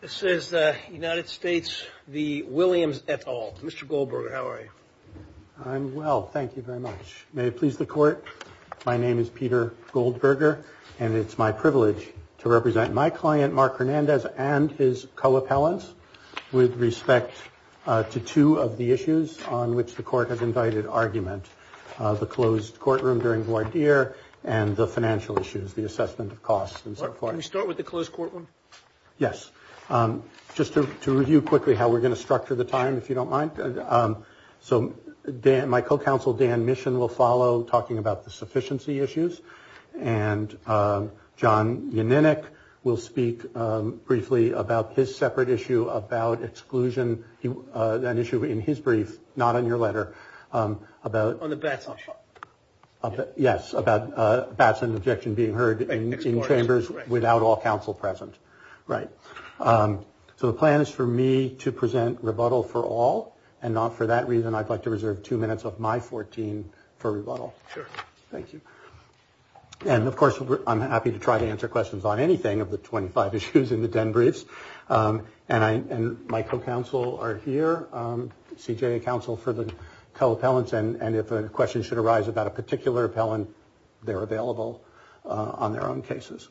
This is the United States v. Williams et al. Mr. Goldberger, how are you? I'm well, thank you very much. May it please the court, my name is Peter Goldberger and it's my privilege to represent my client Mark Hernandez and his co-appellants with respect to two of the issues on which the court has invited argument. The closed courtroom during voir dire and the financial issues, the assessment of costs and so forth. Can we start with the closed courtroom? Mark Hernandez Yes, just to review quickly how we're going to structure the time if you don't mind. So my co-counsel Dan Mission will follow talking about the sufficiency issues and John Yanninick will speak briefly about his separate issue about exclusion, an issue in his brief, not on your letter. Peter Goldberger On the Batson issue. Mark Hernandez Yes, about Batson objection being heard in chambers without all counsel present. So the plan is for me to present rebuttal for all and for that reason I'd like to reserve two minutes of my 14 for rebuttal. Thank you. And of course I'm happy to try to answer questions on anything of the 25 issues in the den briefs and my co-counsel are here, CJA counsel for the co-appellants and if a question should arise about a particular appellant they're available on their own cases.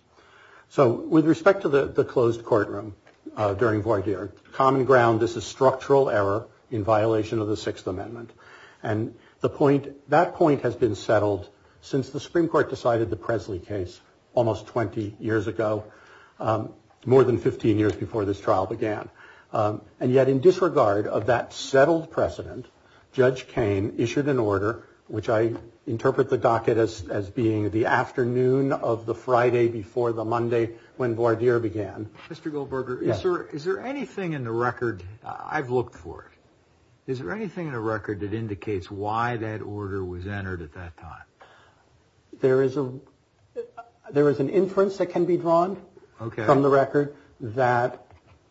So with respect to the closed courtroom during voir dire, common ground is a structural error in violation of the Sixth Amendment and that point has been settled since the Supreme Court decided the Presley case almost 20 years ago, more than 15 years before this trial began. And yet in disregard of that settled precedent, Judge Cain issued an order which I interpret the docket as being the afternoon of the Friday before the Monday when voir dire began. Mr. Goldberger, is there anything in the record, I've looked for it, is there anything in the record that indicates why that order was entered at that time? There is an inference that can be drawn from the record that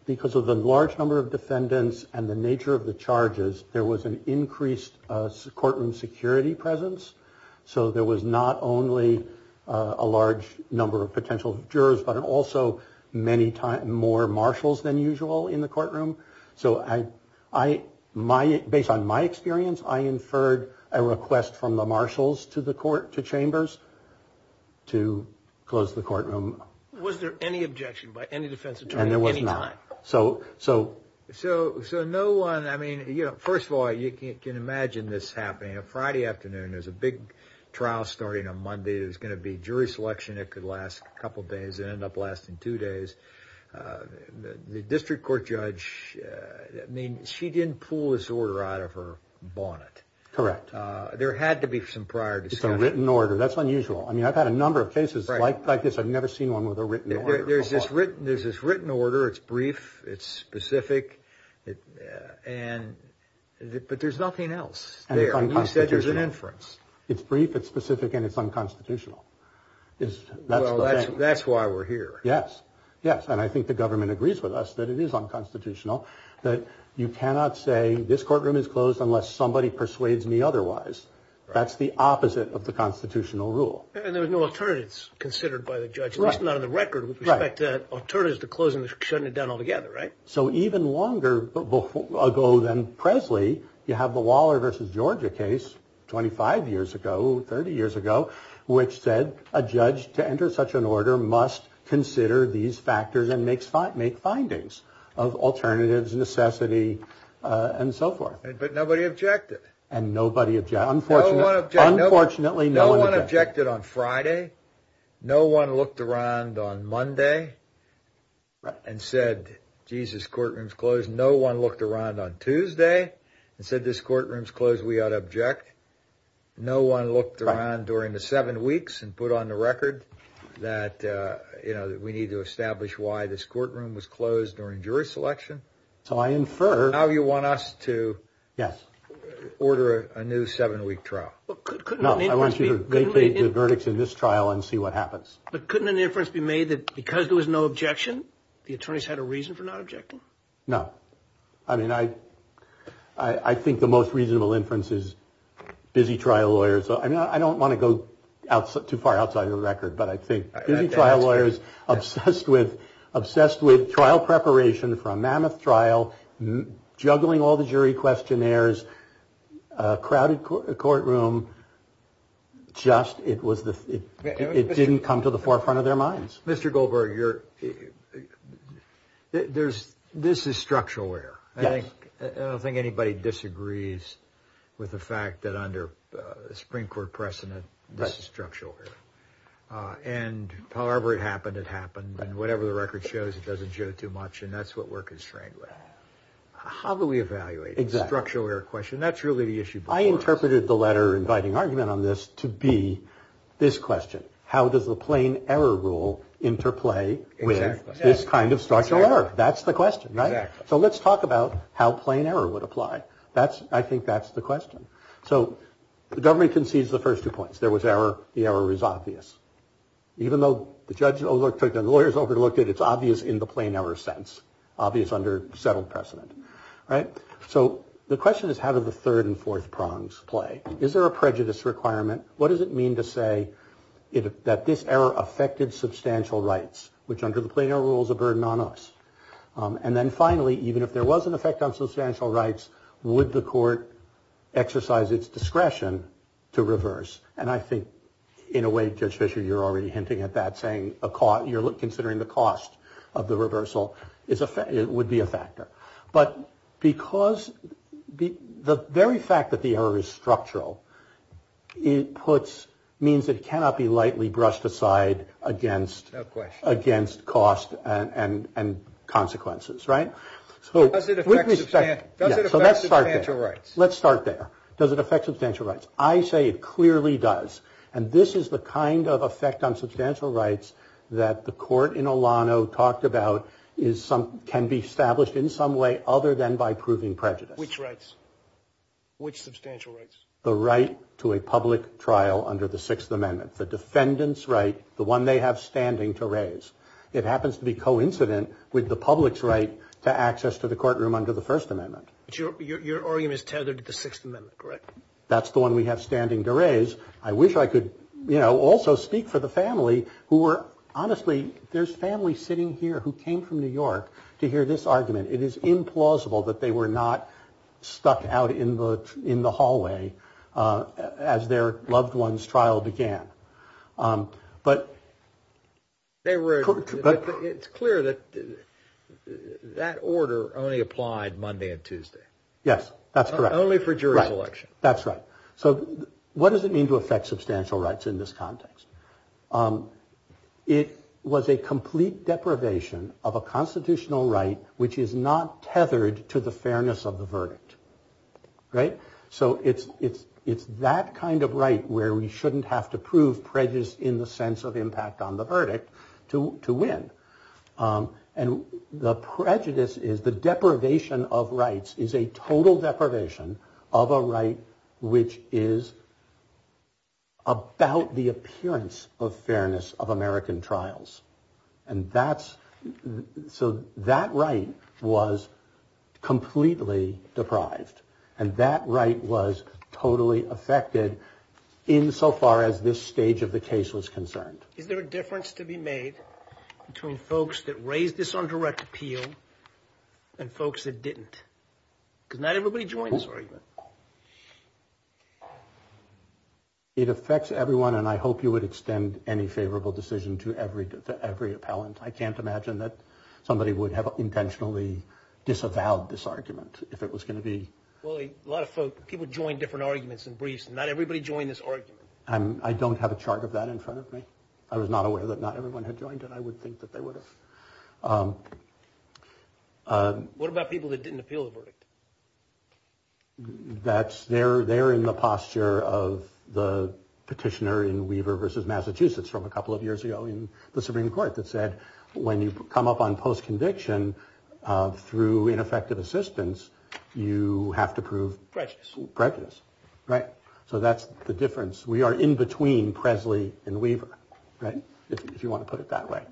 because of the large number of defendants and the nature of the charges there was an increased courtroom security presence. So there was not only a large number of potential jurors but also more marshals than usual in the courtroom. So based on my experience I inferred a request from the marshals to the court, to chambers, to close the courtroom. Was there any objection by any defense attorney at any time? So no one, I mean, first of all you can imagine this happening, a Friday afternoon, there's a big trial starting on Monday, there's going to be jury selection, it could last a couple of days, it ended up lasting two days. The district court judge, I mean, she didn't pull this order out of her bonnet. Correct. There had to be some prior discussion. It's a written order, that's unusual. I mean I've had a number of cases like this, I've never seen one with a written order. There's this written order, it's brief, it's specific, but there's nothing else there. And it's unconstitutional. You said there's an inference. It's brief, it's specific, and it's unconstitutional. Well that's why we're here. Yes, yes, and I think the government agrees with us that it is unconstitutional, that you cannot say this courtroom is closed unless somebody persuades me otherwise. That's the opposite of the constitutional rule. And there were no alternatives considered by the judge, at least not on the record with respect to alternatives to closing or shutting it down altogether, right? So even longer ago than Presley, you have the Waller v. Georgia case 25 years ago, 30 years ago, which said a judge to enter such an order must consider these factors and make findings of alternatives, necessity, and so forth. But nobody objected. Unfortunately, no one objected. No one objected on Friday. No one looked around on Monday and said, Jesus, courtroom's closed. No one looked around on Tuesday and said, this courtroom's closed, we ought to object. No one looked around during the seven weeks and put on the record that, you know, we need to establish why this courtroom was closed during jury selection. So I infer. Now you want us to order a new seven week trial. No, I want you to vacate the verdicts in this trial and see what happens. But couldn't an inference be made that because there was no objection, the attorneys had a reason for not objecting? No. I mean, I think the most reasonable inference is busy trial lawyers. So I mean, I don't want to go out too far outside of the record, but I think trial lawyers obsessed with obsessed with trial preparation for a mammoth trial, juggling all the jury questionnaires, crowded courtroom. Just it was it didn't come to the forefront of their minds. Mr. Goldberg, you're there's this is structural error. I don't think anybody disagrees with the fact that under the Supreme Court precedent, this is structural error. And however it happened, it happened. And whatever the record shows, it doesn't show too much. And that's what we're constrained with. How do we evaluate a structural error question? That's really the issue. I interpreted the letter inviting argument on this to be this question. How does the plain error rule interplay with this kind of structural error? That's the question. How plain error would apply. That's I think that's the question. So the government concedes the first two points. There was error. The error is obvious. Even though the judge took the lawyers overlooked it, it's obvious in the plain error sense. Obvious under settled precedent. Right. So the question is, how did the third and fourth prongs play? Is there a prejudice requirement? What does it mean to say that this error affected substantial rights, which under the plain error rules a burden on us? And then finally, even if there was an effect on substantial rights, would the court exercise its discretion to reverse? And I think in a way, Judge Fisher, you're already hinting at that, saying you're considering the cost of the reversal. It would be a factor. But because the very fact that the error is structural, it puts means it cannot be lightly brushed aside against. Of course, against cost and consequences. Right. So does it affect substantial rights? Let's start there. Does it affect substantial rights? I say it clearly does. And this is the kind of effect on substantial rights that the court in Olano talked about is some can be established in some way other than by proving prejudice. Which rights? Which substantial rights? The right to a public trial under the Sixth Amendment. The defendant's right, the one they have standing to raise. It happens to be coincident with the public's right to access to the courtroom under the First Amendment. Your argument is tethered to the Sixth Amendment, correct? That's the one we have standing to raise. I wish I could, you know, also speak for the family who were, honestly, there's family sitting here who came from New York to hear this argument. It is implausible that they were not stuck out in the hallway as their loved one's trial began. But it's clear that that order only applied Monday and Tuesday. Yes, that's correct. Only for jury selection. That's right. So what does it mean to affect substantial rights in this context? It was a complete deprivation of a constitutional right which is not tethered to the fairness of the verdict. Right. So it's that kind of right where we shouldn't have to prove prejudice in the sense of impact on the verdict to win. And the prejudice is the deprivation of rights is a total deprivation of a right which is about the appearance of fairness of American trials. And that's so that right was completely deprived. And that right was totally affected insofar as this stage of the case was concerned. Is there a difference to be made between folks that raised this on direct appeal and folks that didn't? Because not everybody joins this argument. It affects everyone and I hope you would extend any favorable decision to every to every appellant. I can't imagine that somebody would have intentionally disavowed this argument if it was going to be. Well, a lot of people join different arguments and briefs. Not everybody joined this argument. I don't have a chart of that in front of me. I was not aware that not everyone had joined it. I would think that they would have. What about people that didn't appeal the verdict? That's there. They're in the posture of the petitioner in Weaver versus Massachusetts from a couple of years ago in the Supreme Court that said, when you come up on post conviction through ineffective assistance, you have to prove prejudice. Right. So that's the difference. We are in between Presley and Weaver. Right. If you want to put it that way.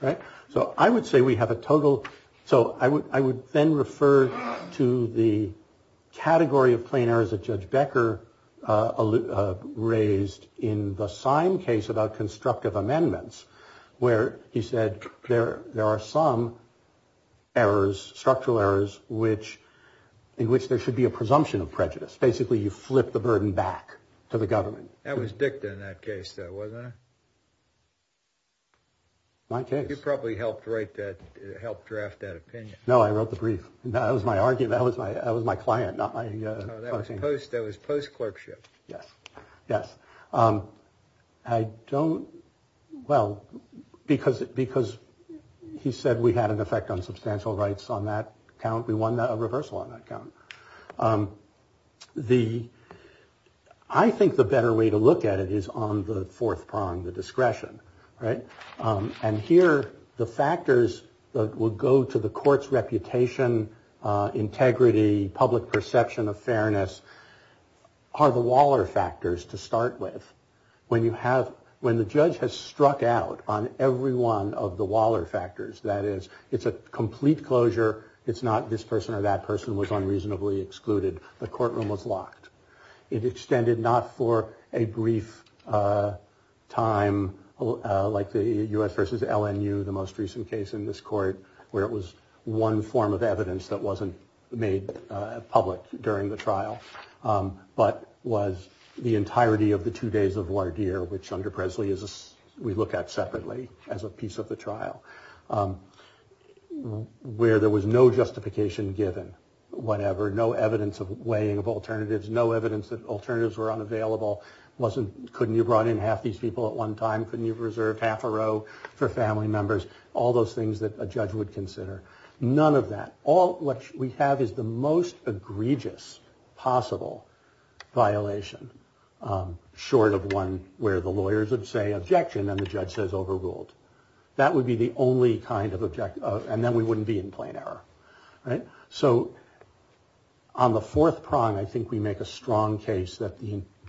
Right. So I would say we have a total. So I would I would then refer to the category of plain errors that Judge Becker raised in the same case about constructive amendments where he said, there are some errors, structural errors, which in which there should be a presumption of prejudice. Basically, you flip the burden back to the government. That was dicta in that case, though, wasn't it? You probably helped write that. Help draft that opinion. No, I wrote the brief. That was my argument. That was my that was my client. Not I suppose that was post clerkship. Yes. Yes. I don't. Well, because because he said we had an effect on substantial rights on that count. We won a reversal on that count. The I think the better way to look at it is on the fourth prong, the discretion. Right. And here the factors that would go to the court's reputation, integrity, public perception of fairness are the Waller factors to start with. When you have when the judge has struck out on every one of the Waller factors, that is, it's a complete closure. It's not this person or that person was unreasonably excluded. The courtroom was locked. It extended not for a brief time, like the U.S. versus LNU, the most recent case in this court where it was one form of evidence that wasn't made public during the trial, but was the entirety of the two days of war here, which under Presley is we look at separately as a piece of the trial where there was no justification given. Whatever, no evidence of weighing of alternatives, no evidence that alternatives were unavailable. Wasn't couldn't you brought in half these people at one time? Couldn't you reserve half a row for family members? All those things that a judge would consider. None of that. All we have is the most egregious possible violation short of one where the lawyers would say objection and the judge says overruled. That would be the only kind of object. And then we wouldn't be in plain error. So. On the fourth prong, I think we make a strong case that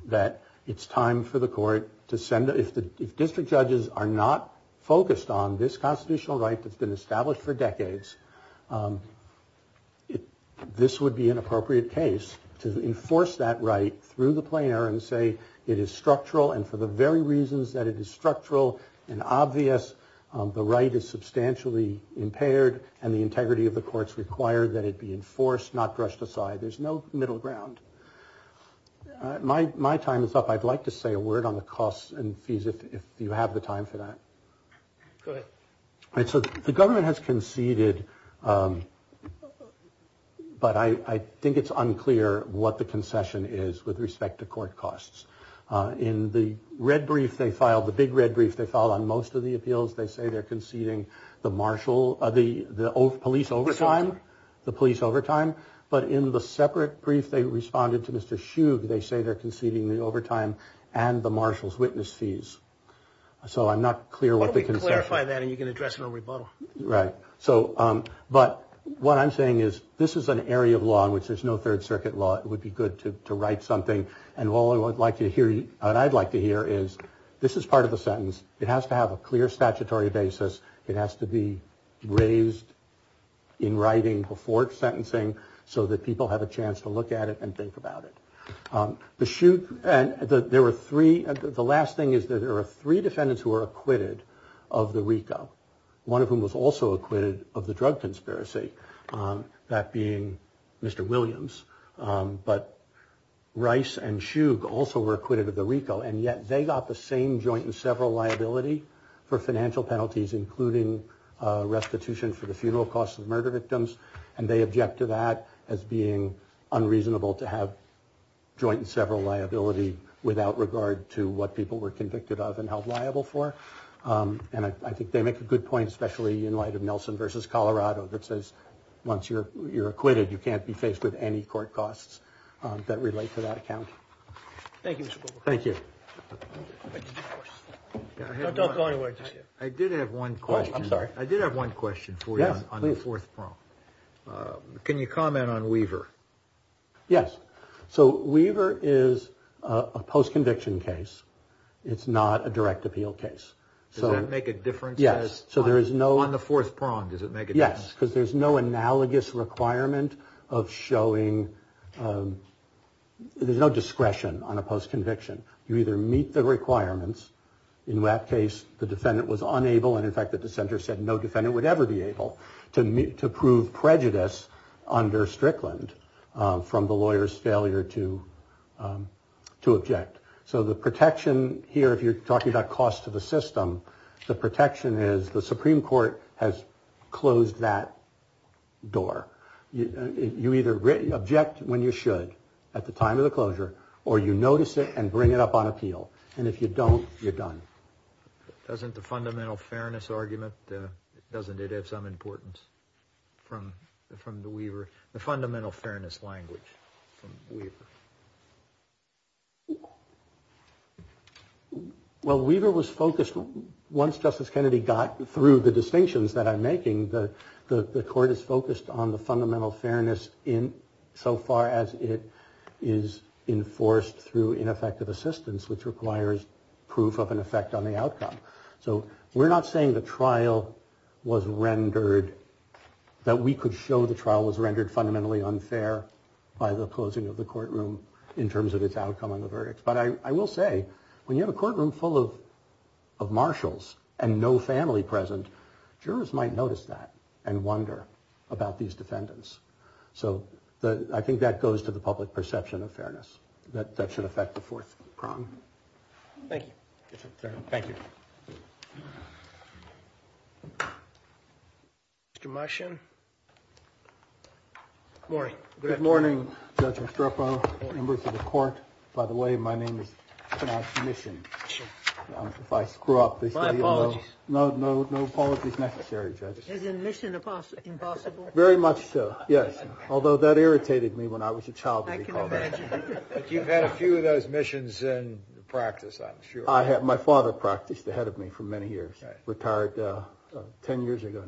that it's time for the court to send if the district judges are not focused on this constitutional right that's been established for decades. If this would be an appropriate case to enforce that right through the player and say it is structural and for the very reasons that it is structural and obvious, the right is substantially impaired and the integrity of the courts require that it be enforced, not brushed aside. There's no middle ground. My my time is up. I'd like to say a word on the costs and fees. If you have the time for that. So the government has conceded. But I think it's unclear what the concession is with respect to court costs. In the red brief, they filed the big red brief. They fall on most of the appeals. They say they're conceding the marshal, the police overtime, the police overtime. But in the separate brief, they responded to Mr. Shoeb. They say they're conceding the overtime and the marshal's witness fees. So I'm not clear what they can clarify that and you can address no rebuttal. Right. So but what I'm saying is this is an area of law in which there's no Third Circuit law. It would be good to write something. And what I would like to hear and I'd like to hear is this is part of the sentence. It has to have a clear statutory basis. It has to be raised in writing before sentencing so that people have a chance to look at it and think about it. The shoot. And there were three. The last thing is that there are three defendants who are acquitted of the Rico, one of whom was also acquitted of the drug conspiracy. That being Mr. Williams. But Rice and Shoeb also were acquitted of the Rico. And yet they got the same joint and several liability for financial penalties, including restitution for the funeral costs of murder victims. And they object to that as being unreasonable to have joint and several liability without regard to what people were convicted of and held liable for. And I think they make a good point, especially in light of Nelson versus Colorado, that says once you're you're acquitted, you can't be faced with any court costs that relate to that account. Thank you. Thank you. Don't go anywhere. I did have one question. I'm sorry. I did have one question for you on the fourth prong. Can you comment on Weaver? Yes. So Weaver is a post conviction case. It's not a direct appeal case. So make a difference. Yes. So there is no on the fourth prong. Does it make it? Yes. Because there's no analogous requirement of showing there's no discretion on a post conviction. You either meet the requirements. In that case, the defendant was unable. And in fact, the dissenter said no defendant would ever be able to meet to prove prejudice under Strickland from the lawyer's failure to to object. So the protection here, if you're talking about cost to the system, the protection is the Supreme Court has closed that door. You either object when you should at the time of the closure or you notice it and bring it up on appeal. And if you don't, you're done. Doesn't the fundamental fairness argument. Doesn't it have some importance from from the Weaver, the fundamental fairness language from Weaver? Well, Weaver was focused. Once Justice Kennedy got through the distinctions that I'm making, the court is focused on the fundamental fairness in so far as it is enforced through ineffective assistance, which requires proof of an effect on the outcome. So we're not saying the trial was rendered that we could show the trial was rendered fundamentally unfair by the closing of the courtroom in terms of its outcome on the verdict. But I will say when you have a courtroom full of of marshals and no family present, jurors might notice that and wonder about these defendants. So I think that goes to the public perception of fairness, that that should affect the fourth prong. Thank you. Thank you. Mr. Martian. Morning. Good morning. Judge Estrepo, members of the court. By the way, my name is Mission. If I screw up. My apologies. No, no, no apologies necessary. Judges. Is admission impossible? Very much so. Yes. Although that irritated me when I was a child. You've had a few of those missions in practice, I'm sure. I have. My father practiced ahead of me for many years. Retired 10 years ago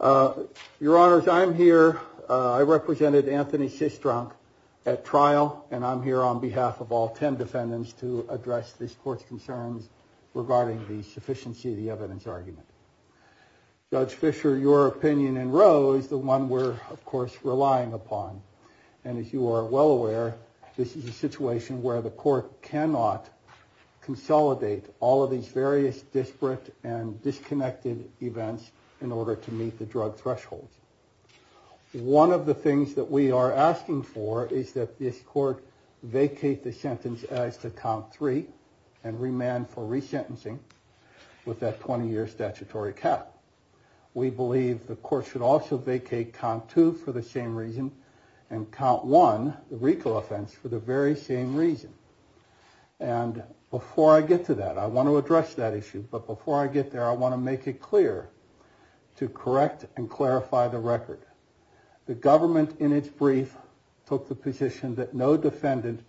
now. Your Honor, I'm here. I represented Anthony Sistrunk at trial, and I'm here on behalf of all 10 defendants to address this court's concerns regarding the sufficiency of the evidence argument. Judge Fisher, your opinion in row is the one we're, of course, relying upon. And as you are well aware, this is a situation where the court cannot consolidate all of these various disparate and disconnected events in order to meet the drug threshold. One of the things that we are asking for is that this court vacate the sentence as to count three and remand for resentencing with that 20 year statutory cap. We believe the court should also vacate count two for the same reason and count one, the recall offense, for the very same reason. And before I get to that, I want to address that issue. But before I get there, I want to make it clear to correct and clarify the record. The government in its brief took the position that no defendant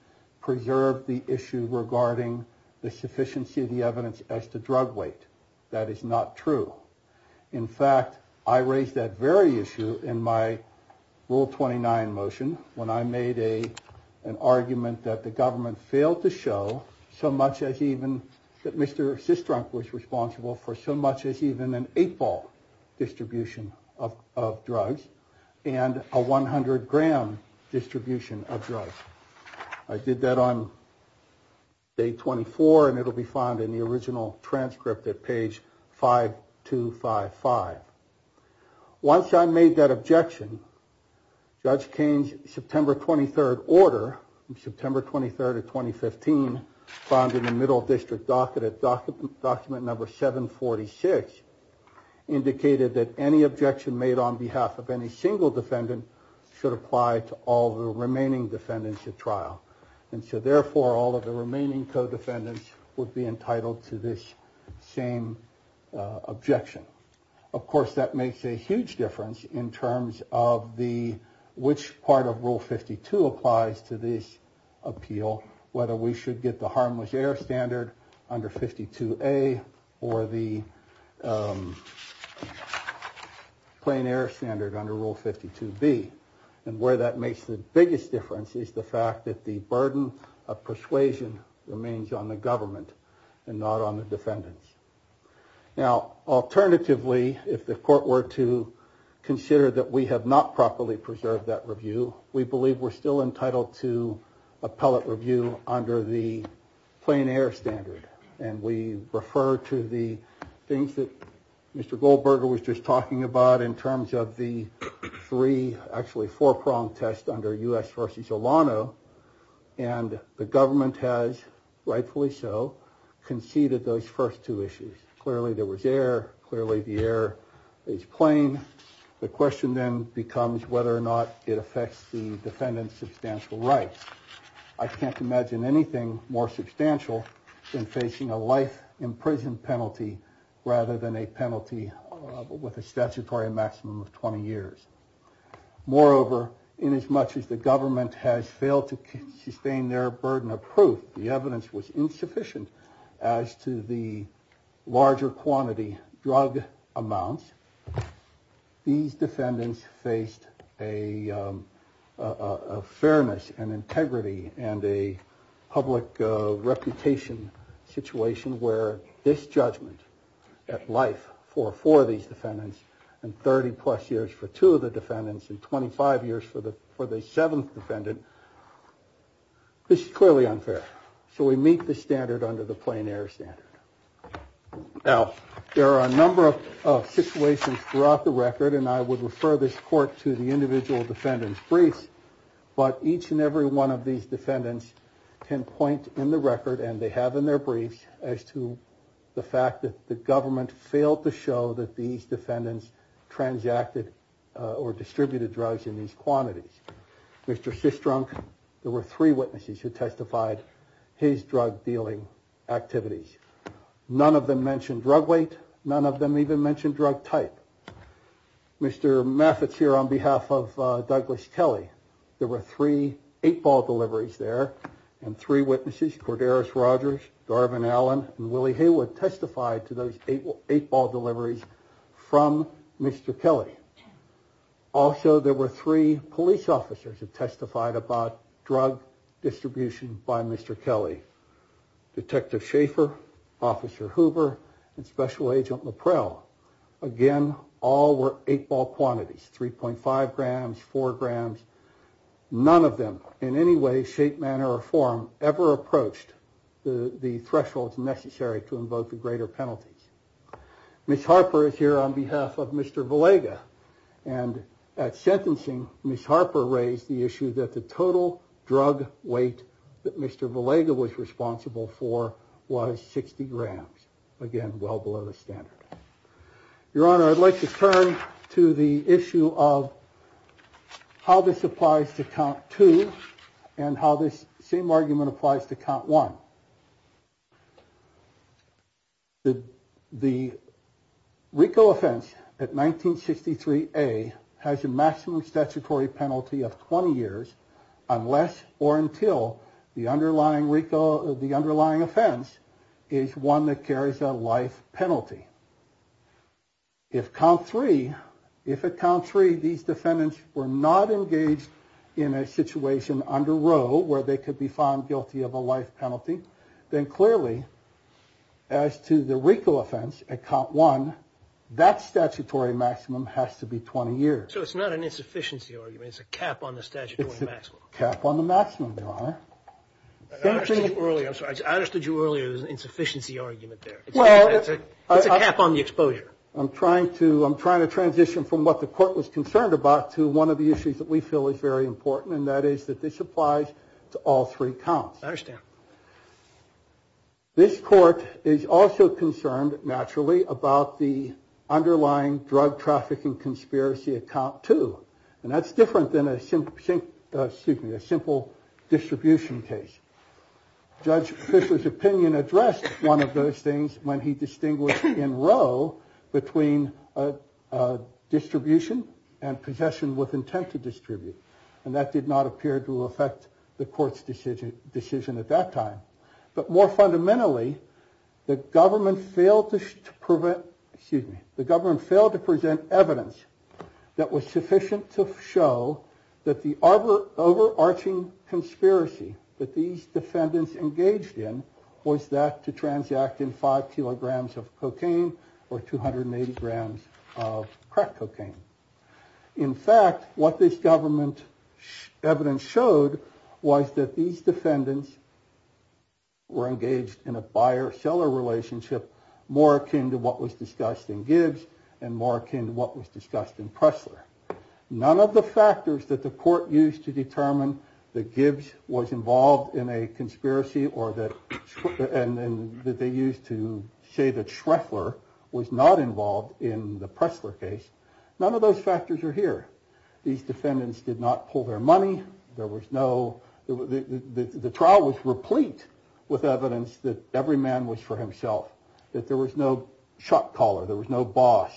preserved the issue regarding the sufficiency of the evidence as to drug weight. That is not true. In fact, I raised that very issue in my rule 29 motion when I made a, an argument that the government failed to show so much as even that Mr. was responsible for so much as even an eight ball distribution of drugs and a 100 gram distribution of drugs. I did that on day 24 and it will be found in the original transcript at page 5255. Once I made that objection, Judge Kane's September 23rd order, September 23rd of 2015, found in the middle district docket at document number 746, indicated that any objection made on behalf of any single defendant should apply to all the remaining defendants at trial. And so therefore, all of the remaining co-defendants would be entitled to this same objection. Of course, that makes a huge difference in terms of the, which part of rule 52 applies to this appeal, whether we should get the harmless air standard under 52A or the plain air standard under rule 52B. And where that makes the biggest difference is the fact that the burden of persuasion remains on the government and not on the defendants. Now, alternatively, if the court were to consider that we have not properly preserved that review, we believe we're still entitled to appellate review under the plain air standard. And we refer to the things that Mr. Goldberger was just talking about in terms of the three, actually four-pronged test under U.S. versus Olano. And the government has, rightfully so, conceded those first two issues. Clearly there was air. Clearly the air is plain. The question then becomes whether or not it affects the defendant's substantial rights. I can't imagine anything more substantial than facing a life in prison penalty rather than a penalty with a statutory maximum of 20 years. Moreover, inasmuch as the government has failed to sustain their burden of proof, the evidence was insufficient as to the larger quantity drug amounts, these defendants faced a fairness and integrity and a public reputation situation where this judgment at life for four of these defendants and 30 plus years for two of the defendants and 25 years for the seventh defendant, this is clearly unfair. So we meet the standard under the plain air standard. Now, there are a number of situations throughout the record, and I would refer this court to the individual defendant's briefs. But each and every one of these defendants can point in the record, and they have in their briefs, as to the fact that the government failed to show that these defendants transacted or distributed drugs in these quantities. Mr. Sistrunk, there were three witnesses who testified his drug dealing activities. None of them mentioned drug weight. None of them even mentioned drug type. Mr. Methods here on behalf of Douglas Kelly. There were three eight ball deliveries there. And three witnesses, Corderos Rogers, Darvin Allen, and Willie Haywood testified to those eight ball deliveries from Mr. Kelly. Also, there were three police officers who testified about drug distribution by Mr. Kelly. Detective Schaefer, Officer Hoover, and Special Agent Laprelle. Again, all were eight ball quantities, 3.5 grams, 4 grams. None of them in any way, shape, manner, or form ever approached the thresholds necessary to invoke the greater penalties. Ms. Harper is here on behalf of Mr. Villega. And at sentencing, Ms. Harper raised the issue that the total drug weight that Mr. Villega was responsible for was 60 grams. Again, well below the standard. Your Honor, I'd like to turn to the issue of how this applies to count two and how this same argument applies to count one. The RICO offense at 1963A has a maximum statutory penalty of 20 years unless or until the underlying RICO, the underlying offense is one that carries a life penalty. If count three, if at count three these defendants were not engaged in a situation under row where they could be found guilty of a life penalty, then clearly as to the RICO offense at count one, that statutory maximum has to be 20 years. So it's not an insufficiency argument, it's a cap on the statutory maximum. Cap on the maximum, Your Honor. I understood you earlier, there's an insufficiency argument there. It's a cap on the exposure. I'm trying to, I'm trying to transition from what the court was concerned about to one of the issues that we feel is very important. And that is that this applies to all three counts. I understand. This court is also concerned, naturally, about the underlying drug trafficking conspiracy at count two. And that's different than a simple, excuse me, a simple distribution case. Judge Fisher's opinion addressed one of those things when he distinguished in row between distribution and possession with intent to distribute. And that did not appear to affect the court's decision at that time. But more fundamentally, the government failed to prevent, excuse me, the government failed to present evidence that was sufficient to show that the overarching conspiracy that these defendants engaged in was that to transact in five kilograms of cocaine or 280 grams of crack cocaine. In fact, what this government evidence showed was that these defendants were engaged in a buyer-seller relationship, more akin to what was discussed in Gibbs and more akin to what was discussed in Pressler. None of the factors that the court used to determine that Gibbs was involved in a conspiracy or that they used to say that Shreffler was not involved in the Pressler case. None of those factors are here. These defendants did not pull their money. There was no, the trial was replete with evidence that every man was for himself, that there was no shot caller, there was no boss.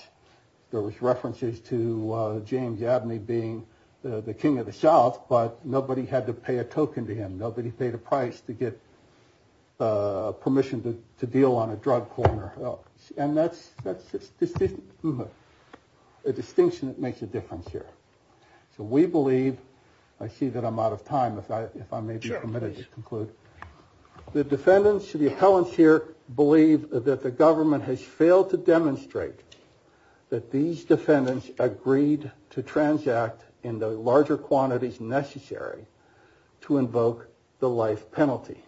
There was references to James Abney being the king of the South, but nobody had to pay a token to him. Nobody paid a price to get permission to deal on a drug corner. And that's a distinction that makes a difference here. So we believe I see that I'm out of time. The defendants, the appellants here believe that the government has failed to demonstrate that these defendants agreed to transact in the larger quantities necessary to invoke the life penalty.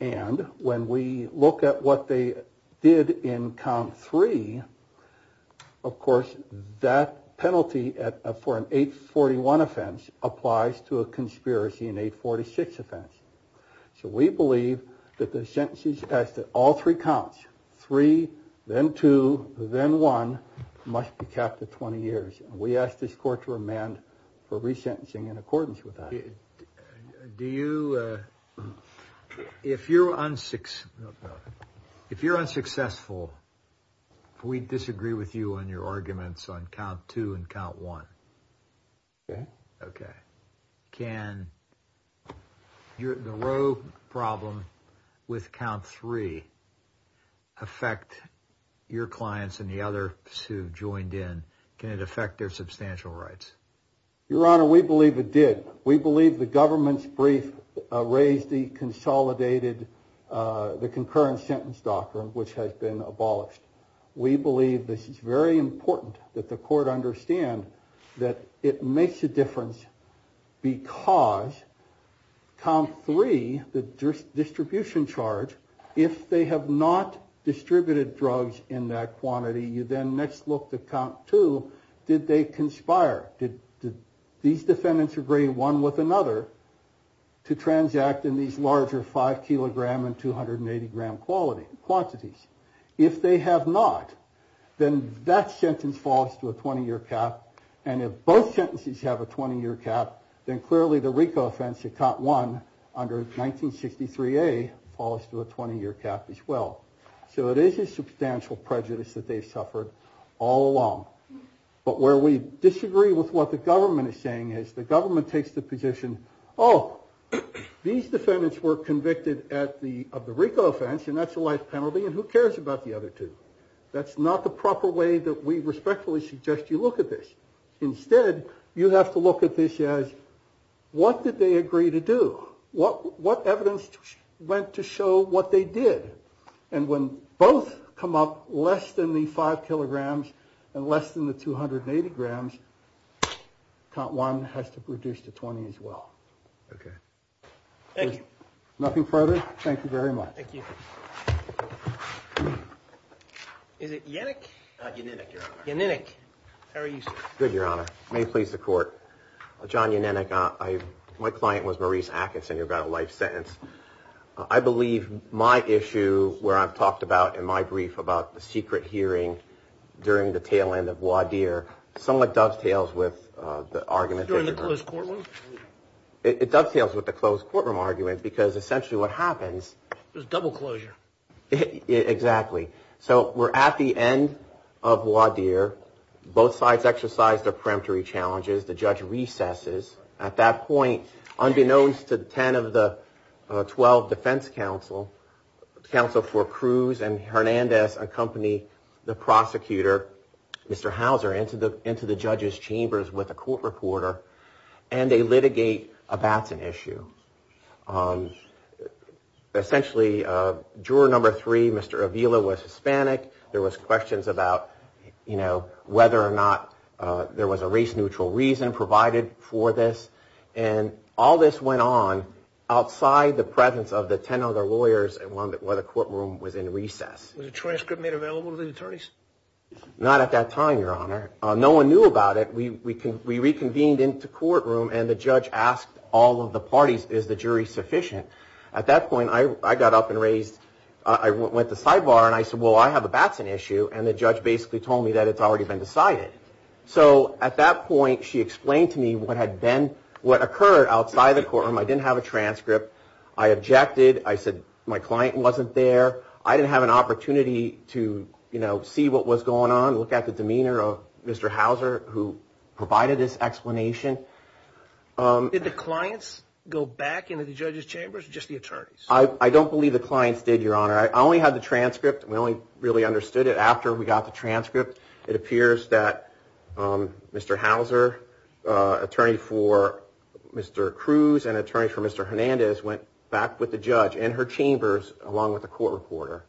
And when we look at what they did in count three, of course, that penalty for an 841 offense applies to a conspiracy in 846 offense. So we believe that the sentences passed at all three counts, three, then two, then one, must be capped at 20 years. We asked this court to remand for resentencing in accordance with that. Do you? If you're on six, if you're unsuccessful, we disagree with you on your arguments on count two and count one. OK, OK. Can you the row problem with count three affect your clients and the other two joined in? Can it affect their substantial rights? Your Honor, we believe it did. We believe the government's brief raised the consolidated, the concurrent sentence doctrine, which has been abolished. We believe this is very important that the court understand that it makes a difference because count three, the distribution charge, if they have not distributed drugs in that quantity, you then next look at count two, did they conspire? Did these defendants agree one with another to transact in these larger five kilogram and 280 gram quantities? If they have not, then that sentence falls to a 20 year cap. And if both sentences have a 20 year cap, then clearly the RICO offense at count one under 1963A falls to a 20 year cap as well. So it is a substantial prejudice that they suffered all along. But where we disagree with what the government is saying is the government takes the position. Oh, these defendants were convicted at the of the RICO offense and that's a life penalty. And who cares about the other two? That's not the proper way that we respectfully suggest you look at this. Instead, you have to look at this as what did they agree to do? What what evidence went to show what they did? And when both come up less than the five kilograms and less than the 280 grams, count one has to reduce to 20 as well. OK, thank you. Nothing further. Thank you very much. Is it Yannick? Yannick. How are you? Good, Your Honor. May it please the court. John Yannick, my client was Maurice Atkinson. You've got a life sentence. I believe my issue where I've talked about in my brief about the secret hearing during the tail end of Wadir somewhat dovetails with the argument. During the closed courtroom. It dovetails with the closed courtroom argument because essentially what happens. There's double closure. Exactly. So we're at the end of Wadir. Both sides exercise their preemptory challenges. The judge recesses. At that point, unbeknownst to 10 of the 12 defense counsel, counsel for Cruz and Hernandez accompany the prosecutor, Mr. Houser, into the into the judge's chambers with a court reporter and they litigate a Batson issue. Essentially, juror number three, Mr. Avila, was Hispanic. There was questions about, you know, whether or not there was a race neutral reason provided for this. And all this went on outside the presence of the 10 other lawyers and one where the courtroom was in recess. Was a transcript made available to the attorneys? Not at that time, Your Honor. No one knew about it. We reconvened into courtroom and the judge asked all of the parties, is the jury sufficient? At that point, I got up and raised. I went to sidebar and I said, well, I have a Batson issue. And the judge basically told me that it's already been decided. So at that point, she explained to me what had been what occurred outside the courtroom. I didn't have a transcript. I objected. I said my client wasn't there. I didn't have an opportunity to, you know, see what was going on. Look at the demeanor of Mr. Houser, who provided this explanation. Did the clients go back into the judge's chambers or just the attorneys? I don't believe the clients did, Your Honor. I only had the transcript. We only really understood it after we got the transcript. It appears that Mr. Houser, attorney for Mr. Cruz and attorney for Mr. Hernandez went back with the judge in her chambers along with the court reporter.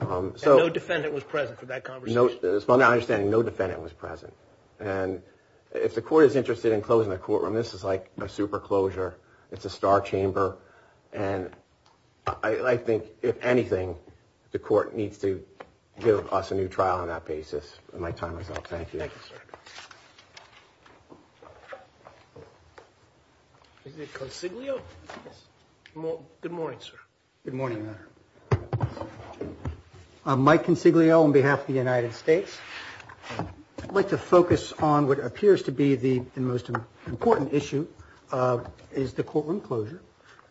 And no defendant was present for that conversation? As far as I understand, no defendant was present. And if the court is interested in closing the courtroom, this is like a super closure. It's a star chamber. And I think, if anything, the court needs to give us a new trial on that basis. My time is up. Thank you. Is it Consiglio? Good morning, sir. Good morning, Your Honor. I'm Mike Consiglio on behalf of the United States. I'd like to focus on what appears to be the most important issue, is the courtroom closure.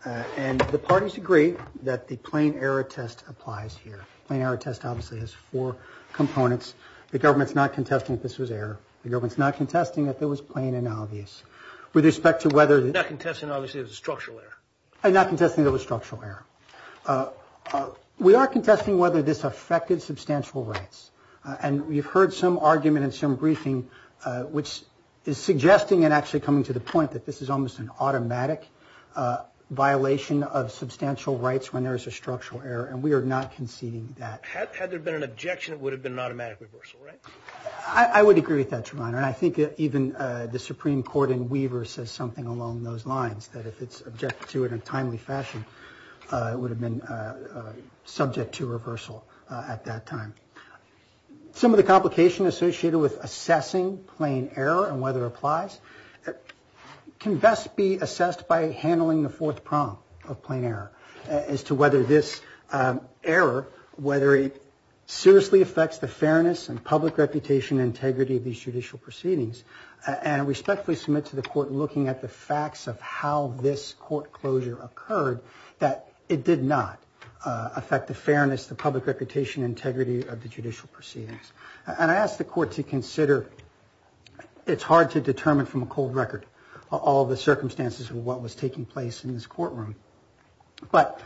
And the parties agree that the plain error test applies here. Plain error test obviously has four components. The government's not contesting that this was error. The government's not contesting that this was plain and obvious. With respect to whether... Not contesting obviously it was a structural error. Not contesting that it was a structural error. We are contesting whether this affected substantial rights. And we've heard some argument in some briefing, which is suggesting and actually coming to the point that this is almost an automatic violation of substantial rights when there is a structural error. And we are not conceding that. Had there been an objection, it would have been an automatic reversal, right? I would agree with that, Your Honor. And I think even the Supreme Court in Weaver says something along those lines, that if it's objected to in a timely fashion, it would have been subject to reversal at that time. Some of the complication associated with assessing plain error and whether it applies can best be assessed by handling the fourth prong of plain error as to whether this error, whether it seriously affects the fairness and public reputation and integrity of these judicial proceedings. And I respectfully submit to the court looking at the facts of how this court closure occurred, that it did not affect the fairness, the public reputation, integrity of the judicial proceedings. And I ask the court to consider, it's hard to determine from a cold record all the circumstances of what was taking place in this courtroom. But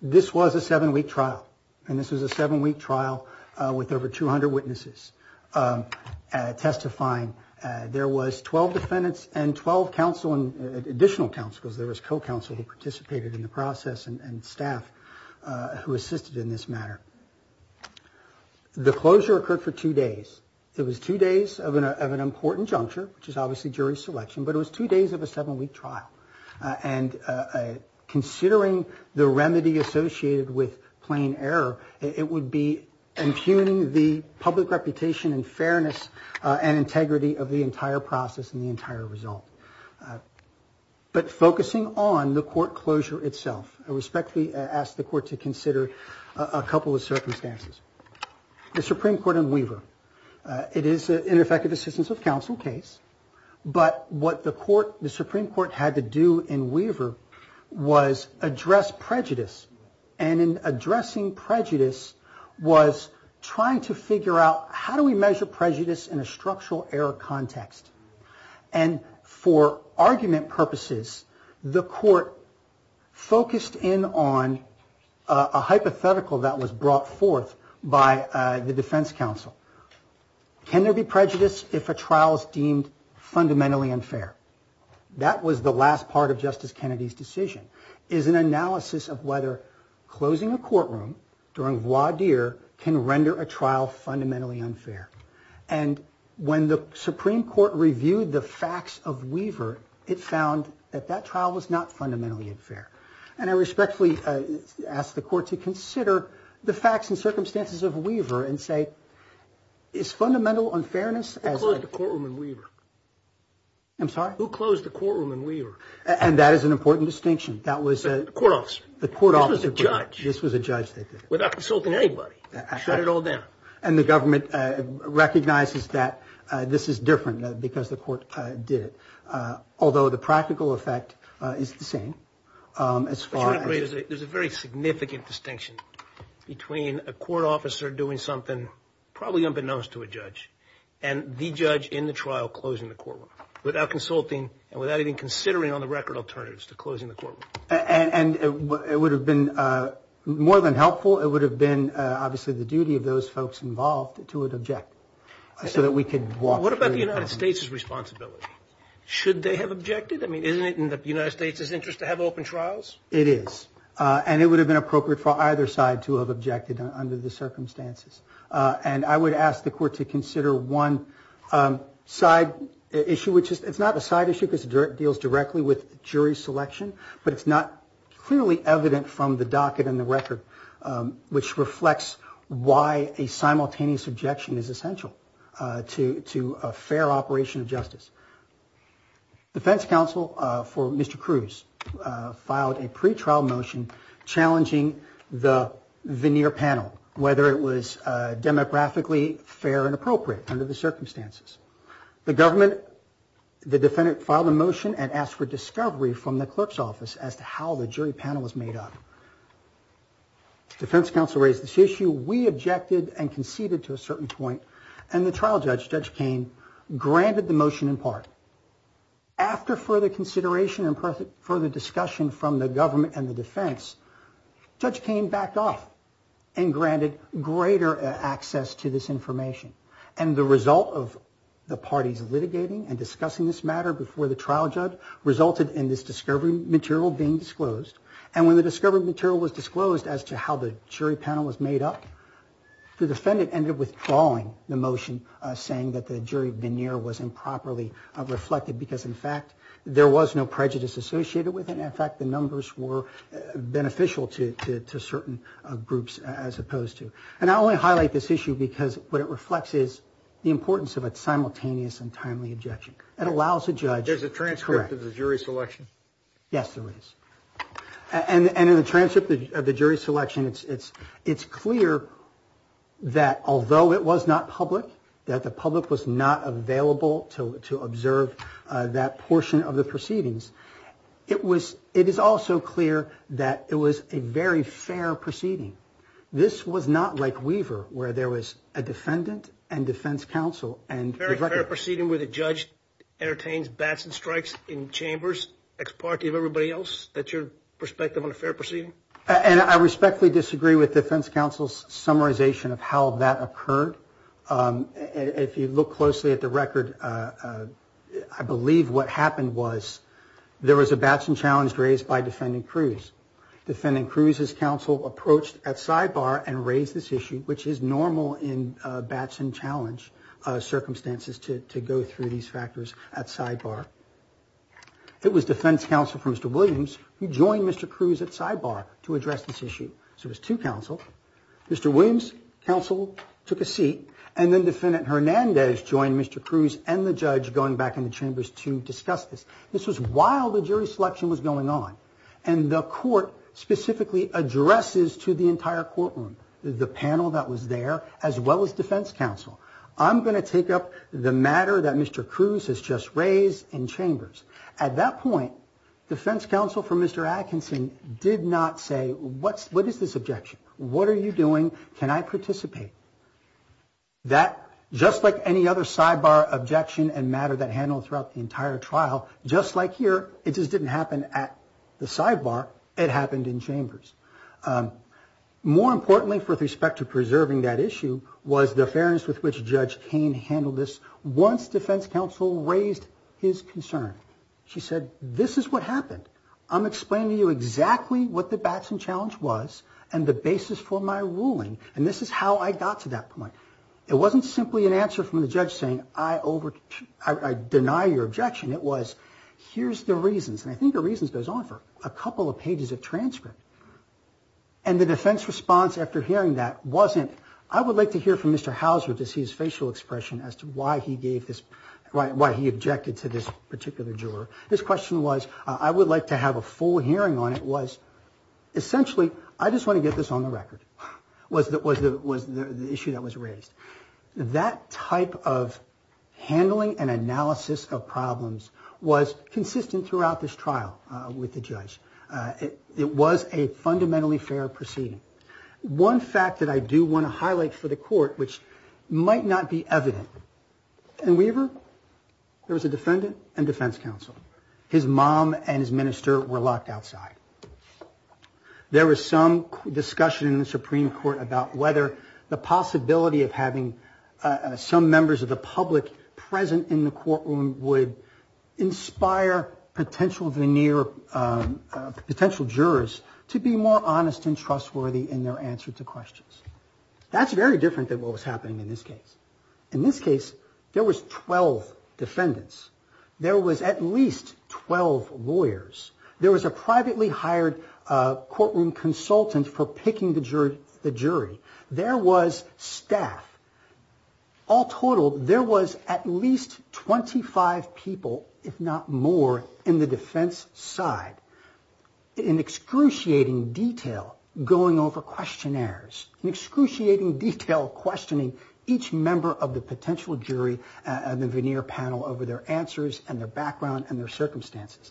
this was a seven-week trial. And this was a seven-week trial with over 200 witnesses testifying. There was 12 defendants and 12 counsel and additional counsels. There was co-counsel who participated in the process and staff who assisted in this matter. The closure occurred for two days. It was two days of an important juncture, which is obviously jury selection, but it was two days of a seven-week trial. And considering the remedy associated with plain error, it would be impugning the public reputation and fairness and integrity of the entire process and the entire result. But focusing on the court closure itself, I respectfully ask the court to consider a couple of circumstances. The Supreme Court in Weaver. It is an ineffective assistance of counsel case, but what the Supreme Court had to do in Weaver was address prejudice. And in addressing prejudice was trying to figure out how do we measure prejudice in a structural error context. And for argument purposes, the court focused in on a hypothetical that was brought forth by the defense counsel. Can there be prejudice if a trial is deemed fundamentally unfair? That was the last part of Justice Kennedy's decision, is an analysis of whether closing a courtroom during voir dire can render a trial fundamentally unfair. And when the Supreme Court reviewed the facts of Weaver, it found that that trial was not fundamentally unfair. And I respectfully ask the court to consider the facts and circumstances of Weaver and say, is fundamental unfairness as a... Who closed the courtroom in Weaver? I'm sorry? Who closed the courtroom in Weaver? And that is an important distinction. The court officer. The court officer. This was a judge. This was a judge. Without consulting anybody. Shut it all down. And the government recognizes that this is different because the court did it. Although the practical effect is the same. As far as... There's a very significant distinction between a court officer doing something probably unbeknownst to a judge and the judge in the trial closing the courtroom without consulting and without even considering on the record alternatives to closing the courtroom. And it would have been more than helpful. It would have been, obviously, the duty of those folks involved to object so that we could walk... What about the United States' responsibility? Should they have objected? I mean, isn't it in the United States' interest to have open trials? It is. And it would have been appropriate for either side to have objected under the circumstances. And I would ask the court to consider one side issue, which is... It's not a side issue because it deals directly with jury selection, but it's not clearly evident from the docket and the record, which reflects why a simultaneous objection is essential to a fair operation of justice. Defense counsel for Mr. Cruz filed a pretrial motion challenging the veneer panel, whether it was demographically fair and appropriate under the circumstances. The government... The defendant filed a motion and asked for discovery from the clerk's office as to how the jury panel was made up. Defense counsel raised this issue. We objected and conceded to a certain point and the trial judge, Judge Cain, granted the motion in part. After further consideration and further discussion from the government and the defense, Judge Cain backed off and granted greater access to this information. And the result of the parties litigating and discussing this matter before the trial judge resulted in this discovery material being disclosed. And when the discovery material was disclosed as to how the jury panel was made up, the defendant ended up withdrawing the motion saying that the jury veneer was improperly reflected because, in fact, there was no prejudice associated with it. In fact, the numbers were beneficial to certain groups as opposed to... And I only highlight this issue because what it reflects is the importance of a simultaneous and timely objection. It allows a judge... There's a transcript of the jury selection. Yes, there is. And in the transcript of the jury selection, it's clear that although it was not public, that the public was not available to observe that portion of the proceedings, it is also clear that it was a very fair proceeding. This was not like Weaver where there was a defendant and defense counsel and... A very fair proceeding where the judge entertains bats and strikes in chambers, ex parte of everybody else. That's your perspective on a fair proceeding? And I respectfully disagree with defense counsel's summarization of how that occurred. If you look closely at the record, I believe what happened was there was a batsman challenge raised by defendant Cruz. Defendant Cruz's counsel approached at sidebar and raised this issue, which is normal in batsman challenge circumstances to go through these factors at sidebar. It was defense counsel for Mr. Williams who joined Mr. Cruz at sidebar to address this issue. So it was two counsel. Mr. Williams' counsel took a seat and then defendant Hernandez joined Mr. Cruz and the judge going back into chambers to discuss this. This was while the jury selection was going on and the court specifically addresses to the entire courtroom, the panel that was there, as well as defense counsel, I'm going to take up the matter that Mr. Cruz has just raised in chambers. At that point, defense counsel for Mr. Atkinson had to say, what is this objection? What are you doing? Can I participate? That, just like any other sidebar objection and matter that handled throughout the entire trial, just like here, it just didn't happen at the sidebar. It happened in chambers. More importantly, with respect to preserving that issue, was the fairness with which judge Cain handled this once defense counsel raised his concern. She said, this is what happened. This is what the Watson challenge was and the basis for my ruling and this is how I got to that point. It wasn't simply an answer from the judge saying I deny your objection. It was, here's the reasons and I think the reasons goes on for a couple of pages of transcript and the defense response after hearing that wasn't, I would like to hear from Mr. Houser to see his facial expression as to why he gave this, why he objected to this particular juror. This question was, essentially, I just want to get this on the record was the issue that was raised. That type of handling and analysis of problems was consistent throughout this trial with the judge. It was a fundamentally fair proceeding. One fact that I do want to highlight for the court, which might not be evident, in Weaver, there was a defendant and defense counsel. His mom and his minister were locked outside. There was some discussion in the Supreme Court about whether the possibility of having some members of the public present in the courtroom would inspire potential veneer, potential jurors to be more honest and trustworthy in their answer to questions. That's very different than what was happening in this case. In this case, there was 12 defendants. There was at least 12 lawyers. There was a privately hired courtroom consultant for picking the jury. There was staff. All totaled, there was at least 25 people, if not more, in the defense side in excruciating detail going over questionnaires, in excruciating detail questioning each member of the potential jury and the veneer panel over their answers and their background and their circumstances.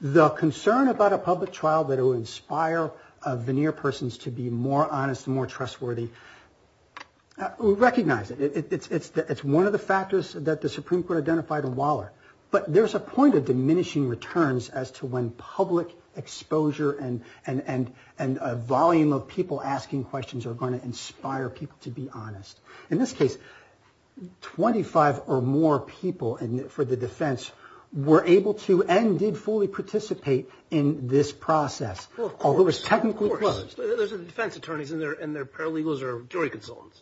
The concern about a public trial that will inspire veneer persons to be more honest and more trustworthy, we recognize it. It's one of the factors that the Supreme Court identified in Waller. But there's a point of diminishing returns as to when public exposure and a volume of people asking questions are going to inspire people to be honest. In this case, 25 or more people for the defense were able to end and did fully participate in this process. Although it was technically closed. There's defense attorneys and they're paralegals or jury consultants.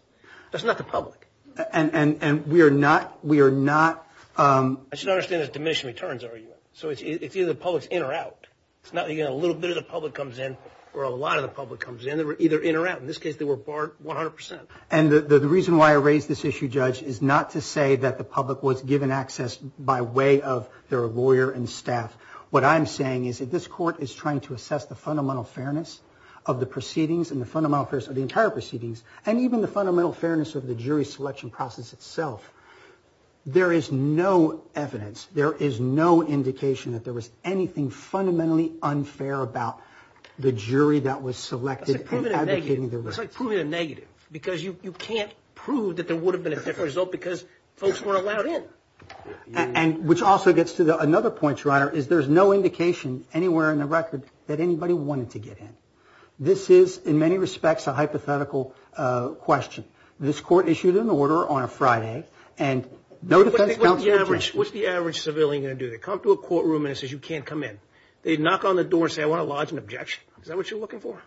That's not the public. And we are not, we are not... I should understand there's diminishing returns, I argue. So it's either the public's in or out. It's not even a little bit of the public comes in or a lot of the public comes in. They were either in or out. In this case, they were barred 100%. And the reason why I raise this issue, Judge, is not to say that the public was given access by way of their lawyer and staff. What I'm saying is that this court is trying to assess the fundamental fairness of the proceedings and the fundamental fairness of the entire proceedings and even the fundamental fairness of the jury selection process itself. There is no evidence. There is no indication that there was anything fundamentally unfair about the jury that was selected in advocating their rights. It's like proving a negative. Because you can't prove that there would have been a different result because folks weren't allowed in. Which also gets to another point, Your Honor, is there's no indication anywhere in the record that anybody wanted to get in. This is, in many respects, a hypothetical question. This court issued an order on a Friday and no defense counsel objected. What's the average civilian going to do? They come to a courtroom and it says, you can't come in. They knock on the door and say, I want to lodge an objection. Is that what you're looking for?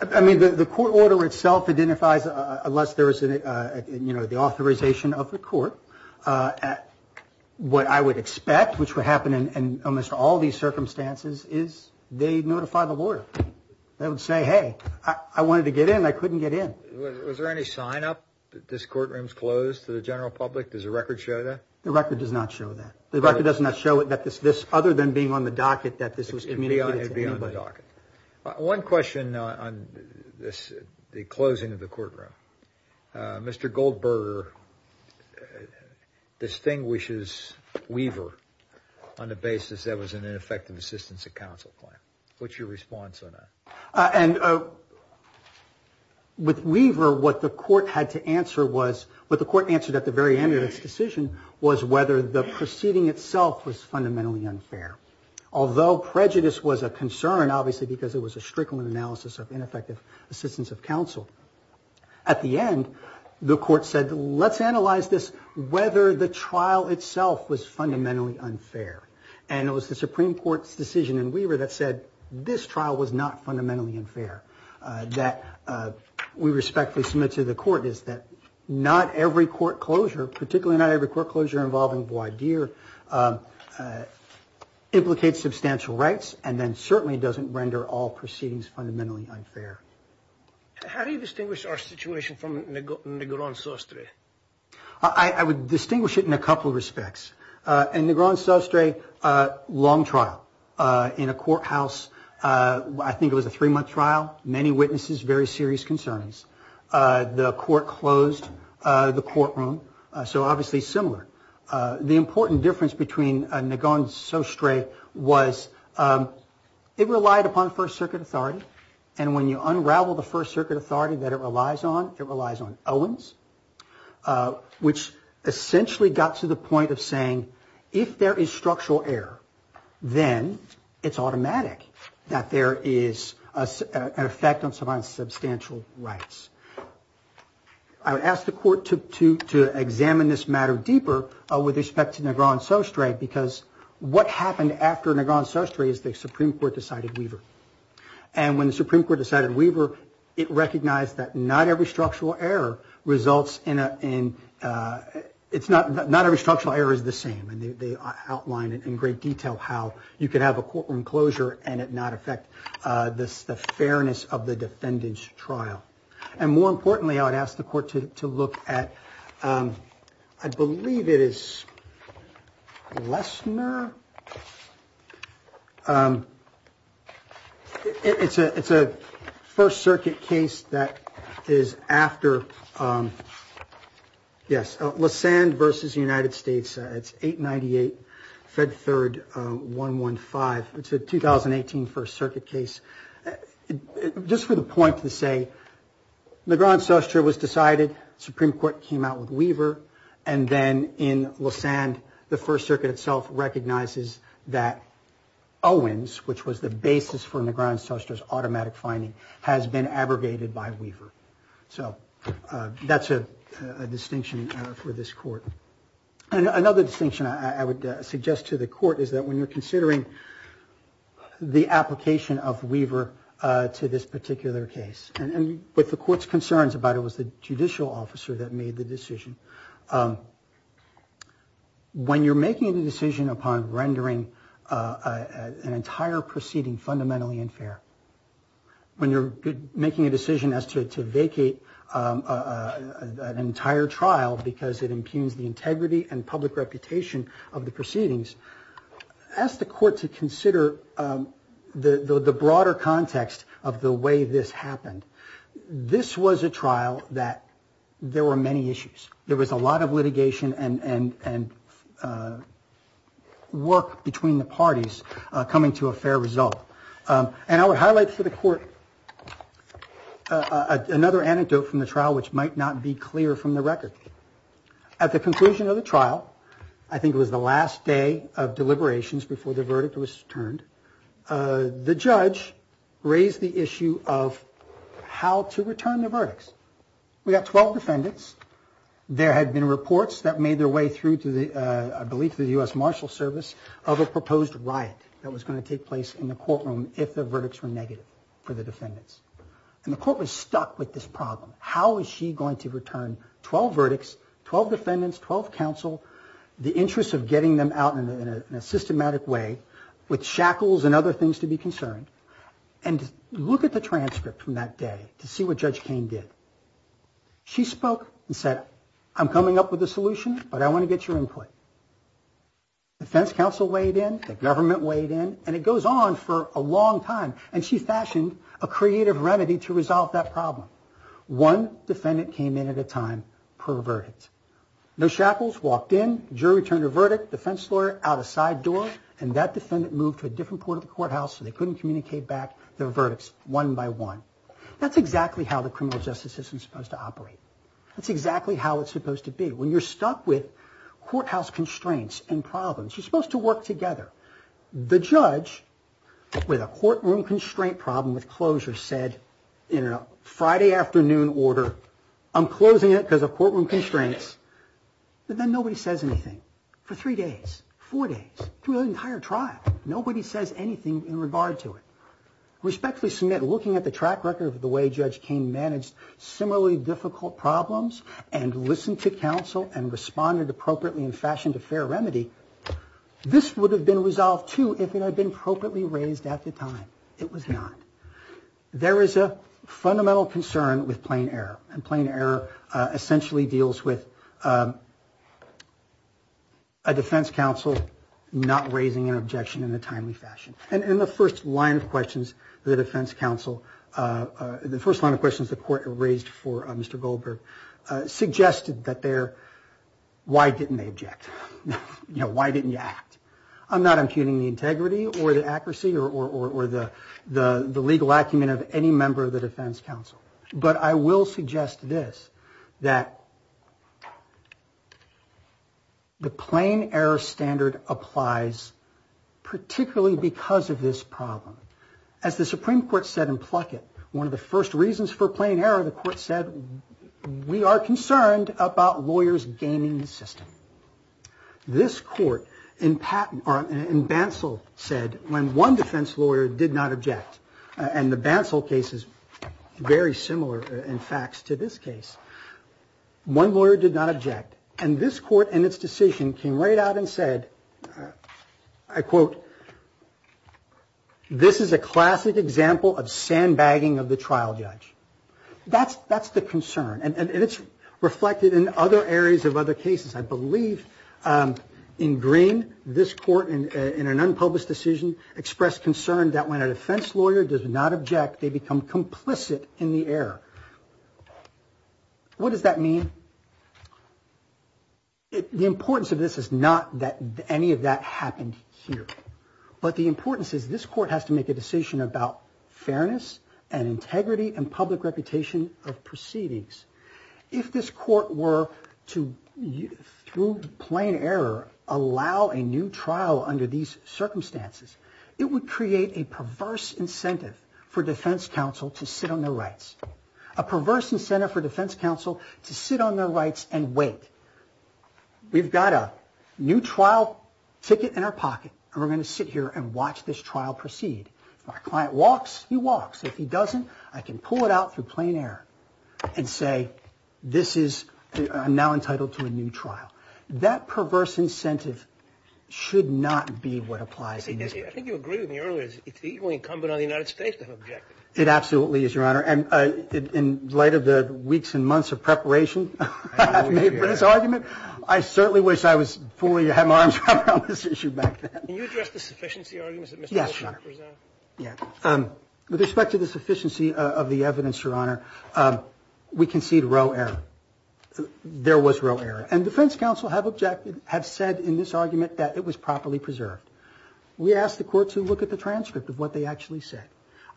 I mean, the court order itself identifies unless there is the authorization of the court what I would expect which would happen in almost all these circumstances is they notify the lawyer. They would say, hey, I wanted to get in. I couldn't get in. Was there any sign up that this courtroom is closed to the general public? Does the record show that? The record does not show that. The record does not show that this, other than being on the docket, that this was communicated to anybody. It would be on the docket. One question on the closing of the courtroom. Mr. Goldberger distinguishes Weaver on the basis that was an ineffective assistance of counsel claim. What's your response on that? And with Weaver what the court had to answer was what the court answered at the very end of its decision was whether the proceeding itself was fundamentally unfair. Although prejudice was a concern obviously because it was a strickling analysis of ineffective assistance of counsel. At the end the court said let's analyze this whether the trial itself was fundamentally unfair. And it was the Supreme Court's decision in Weaver that said this trial was not fundamentally unfair. That we respectfully submit to the court is that not every court closure, particularly not every court closure involving Bois D'Ir implicates substantial rights and then certainly doesn't render all proceedings fundamentally unfair. How do you distinguish our situation from Negron Sostre? I would distinguish it in a couple of respects. In Negron Sostre long trial in a courthouse I think it was a three month trial many witnesses very serious concerns. The court closed the courtroom so obviously similar. The important difference between Negron Sostre was it relied upon First Circuit authority and when you unravel the First authority it relies on Owens which essentially got to the point of saying if there is structural error then it's automatic that there is an effect on substantial rights. I would ask the court to examine this matter deeper with respect to Negron Sostre because what happened after Negron Sostre is the Supreme Court decided it recognized that not every structural error is the same. They outlined in great detail how you could have a courtroom closure and not affect the fairness of the defendant's trial. More importantly I would ask the court to look at I believe it is Lesner it's a First Circuit case that is after yes Lesand versus United States it's 898 Fed 3rd 115 it's a 2018 First Circuit case. Just for the point to say Negron Sostre was decided Supreme Court came out with Weaver and then in Lesand the First Circuit itself recognizes that Owens which was the basis for the application of Weaver to this particular case. With the court's concerns it was the judicial officer that made the decision. When you're making a decision upon rendering an entire proceeding fundamentally unfair. When you're making a decision as to vacate an entire trial because it impugns integrity and reputation of the proceedings ask the court to consider the broader context of the way this happened. This was a trial that there were many issues. There was a lot of litigation and work between the parties coming to a fair result. I would highlight for the court another anecdote which might not be clear from the record. At the conclusion of the trial I think it was the last day of deliberations before the verdict was returned. The judge raised the issue of how to return the verdicts. We got 12 defendants. There had been reports that made their way through to the U.S. Marshal Service of a proposed riot that was going to take place in the courtroom if the was returned in a systematic way with shackles and other things to be concerned and look at the transcript from that day to see what Judge Cain did. She spoke and said I'm coming up with a solution but I want to get your input. The judge walked in and that moved to a different part of the courthouse so they couldn't communicate their verdicts one by one. That's exactly how it's supposed to be. When you're stuck with courthouse constraints you're supposed to work together. The judge with a courtroom constraint problem with closure said in a Friday afternoon order I'm closing it because of courtroom constraints but then nobody says anything for three days, four days, the entire trial. Nobody says anything in regard to it. Respectfully looking at the track record of the way Judge Cain managed to address similarly difficult problems and listen to counsel and responded appropriately in fashion to fair remedy this would have been resolved too if it had been appropriately raised at the time. It was not. There is a fundamental concern with plain error and plain error essentially deals with a defense counsel not raising an issue in a timely fashion. In the first line of questions the defense counsel the first line of questions the court raised for Mr. Goldberg suggested why didn't they object? Why didn't you act? I'm not impugning the accuracy or the legal acumen of any member of the defense counsel but I will suggest this that the plain error standard applies particularly because of this problem. As the Supreme Court said in Pluckett one of the first reasons for plain error the court said we are concerned about lawyers gaining the system. This court said when one defense lawyer did not object and the Bansal case is very similar in facts to this case. One lawyer did not object and this court came out and said I quote this is a classic example of sand bagging of the trial judge. That's the concern and it's reflected in other cases. I believe in green this court in an example the defense lawyer does not object they become complicit in the error. What does that mean? The importance of this is not that any of that happened here. But the importance is this court has to make a decision about fairness and integrity and public reputation of proceedings. If this court were to through plain error allow a new trial under these circumstances it would create a perverse incentive for defense counsel to sit on their rights. A perverse incentive for defense counsel to sit on their rights and wait. We've got a new trial ticket in our pocket and we're going to sit here and watch this trial proceed. If our client walks he walks. If he doesn't I can pull it out through plain error and say this is I'm now entitled to a new trial. That perverse incentive should not be what applies in this case. I think you agree with me earlier. It's equally incumbent on the United States court to sit on their rights and for the trial to proceed. I think we should sit here and watch this trial proceed. I think we should sit and for the trial to proceed.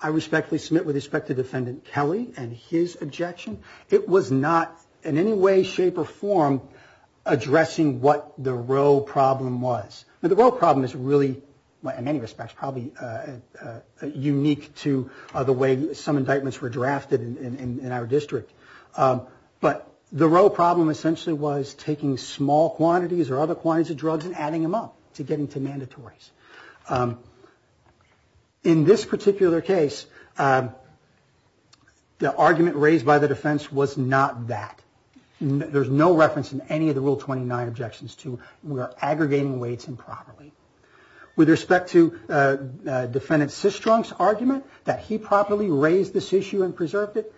I respectfully submit with respect to defendant Kelly and his objection. It was not in any way shape or form addressing what the real problem was. The real problem essentially was taking small quantities and adding them up. In this particular case, the argument raised by the defense was not that. There is no reference to aggregating weights improperly. With respect to defendant argument that he properly raised this issue and preserved it,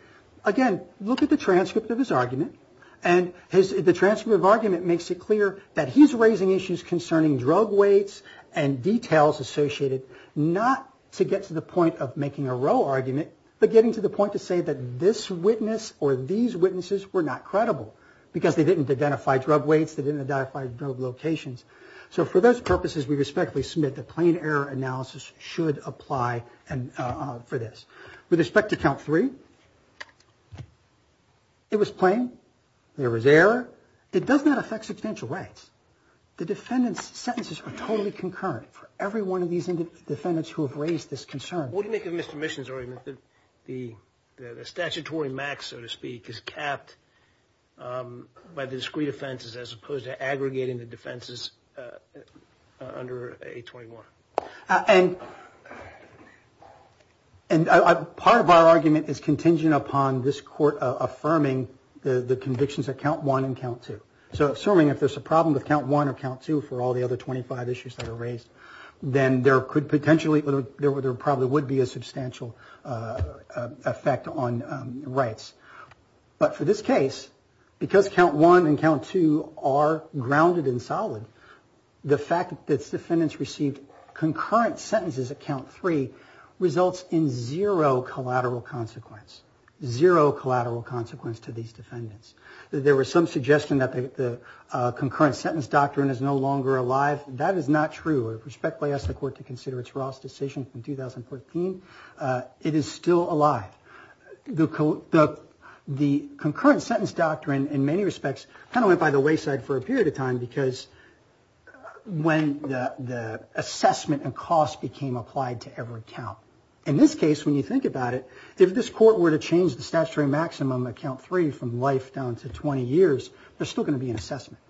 again, look at the transcript of his argument. It makes it clear that he is raising issues concerning drug weights and details associated not to get to the point of making a row argument, but getting to the point to say these witnesses were not credible because they didn't identify drug weights or locations. For those purposes, we submit the plain error analysis should apply for this. With respect to count three, it was plain. There was error. It does not affect substantial rights. The defendant's sentences are totally concurrent for every one of these defendants who have raised this concern. The statutory max, so to speak, is capped by the discrete offenses as opposed to aggregating the defenses under a 21. And part of our argument is contingent upon this court affirming the convictions of count one and count two. Assuming there is a problem with count one or count two, there would be a substantial effect on rights. But for this case, because count one and count two are grounded in solid, the fact that defendants received concurrent sentences at count three results in zero collateral consequence. Zero collateral consequence to these defendants. There was some suggestion that the concurrent sentence doctrine is no longer alive. That is not true. It is still alive. The concurrent sentence doctrine went by the wayside for a period of time because when the assessment and cost became applied to every if each court were to change the statutory maximum at count three from life down to 20 years, there would still be an assessment.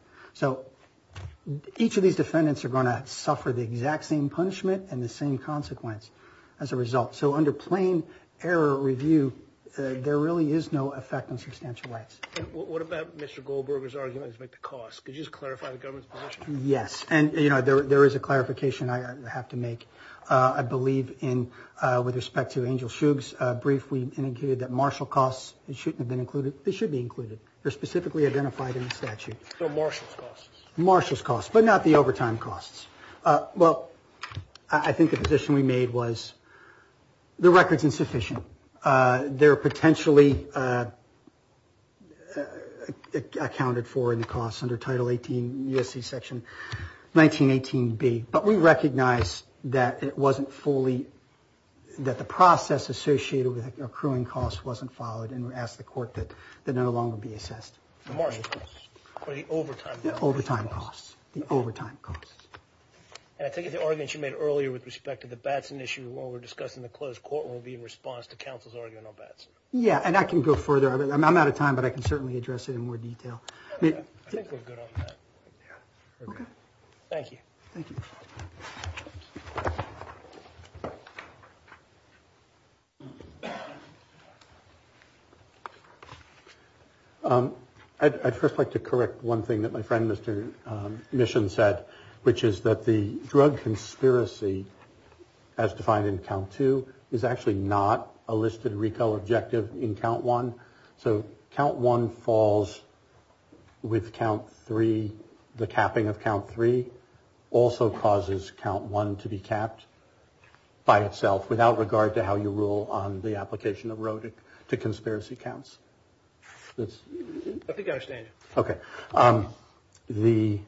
Each defendant will suffer the same consequence as a result. Under plain error review, there is no effect on substantial rights. There is a clarification I have to make. I believe with respect to Angel Shug's brief, they should be included. They are specifically identified in the statute. The cost is not the overtime costs. I think the position we made was the record is insufficient. There are potentially accounted for in the cost. We recognize that it wasn't fully that the process associated with accruing costs wasn't followed. The overtime costs. I think the argument you made earlier with respect to the Batson issue will be in response. I'm out of time. I can address it in more detail. Thank you. I'd first like to correct one thing that my friend said, which is that the drug conspiracy as defined in count two is a listed recall objective in count one. So count one falls with count three, the capping of count three. The drug conspiracy also causes count one to be capped by itself without regard to how you rule on the application of road to conspiracy counts. I think I understand you.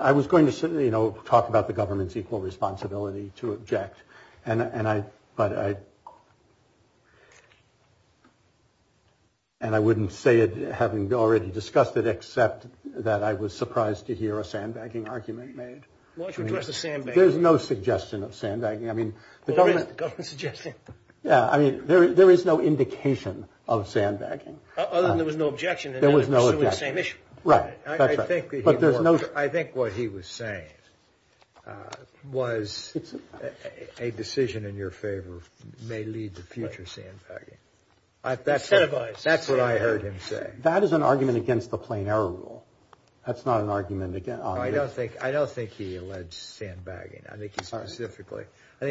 I was going to talk about the government's equal responsibility to object and I but I and I wouldn't say it having already discussed it except that I was surprised to sandbagging argument made address the sandbag. There's no suggestion of sandbagging. I mean, the government suggestion. Yeah. I mean, there is no indication of sandbagging. There was no objection. There was no same issue. Right. That's right. But there's no I think what he was saying was a decision in your favor may lead to future sandbagging. That's what I heard him say. That is an argument against the plain error rule. That's not an argument. I don't think he alleged sandbagging. I think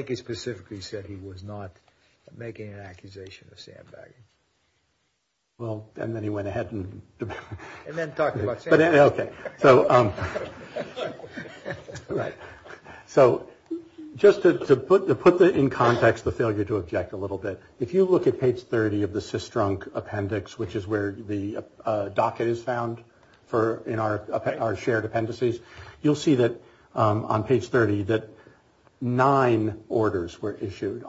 he specifically said he was not making an accusation of sandbagging. Well, and then he went ahead and And then talked about sandbagging. Okay. So, right. So, just to put in context the failure to object a little bit, if you look at page 30 of the CISDRUNK appendix, which is where the docket is found in our shared appendices, you'll see on page 30 that nine orders were submitted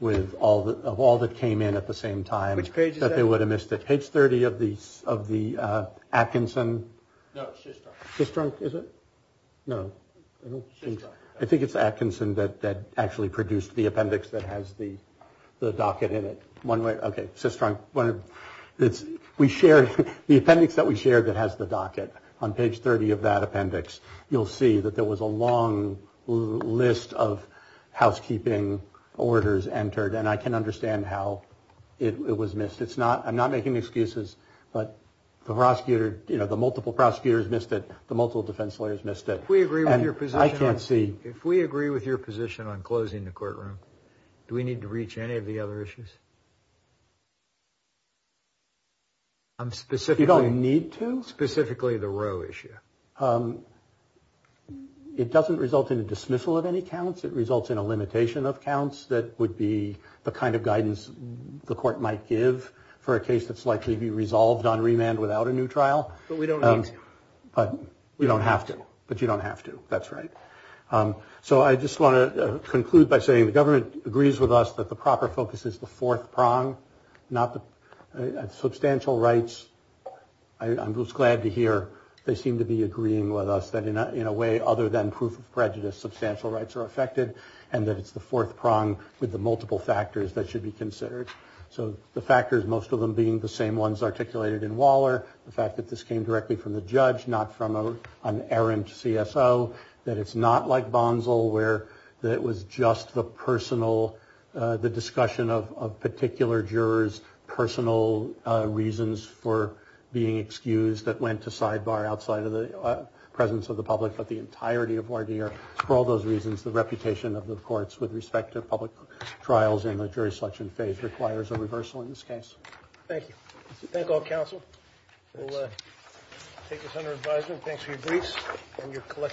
with all that came in at the same time. Which page is that? Page 30 of the Atkinson No, CISDRUNK. CISDRUNK, is it? No. I think it's Atkinson that actually produced the appendix that has the docket in it. Okay, CISDRUNK. The appendix that we shared that has the docket in which is where the docket is entered, and I can understand how it was missed. I'm not making excuses, but the multiple prosecutors missed it, the multiple defense lawyers missed it. I can't see. If we agree with your position on closing the courtroom, do we need to reach any of the cases that the court might give for a case that's likely to be resolved on remand without a new trial? We don't have to, but you don't have to. That's right. So I just want to conclude by saying the government agrees with us that the proper prosecution of prejudice are affected, and that it's the fourth prong with the multiple factors that should be considered. So the factors, most of them being the same ones articulated in Waller, the fact that this came directly from the judge, not from the court. in the same way that the judge has not been prosecuted in the same way that the judge judge has not been prosecuted in the same way that the judge has not been prosecuted in the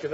same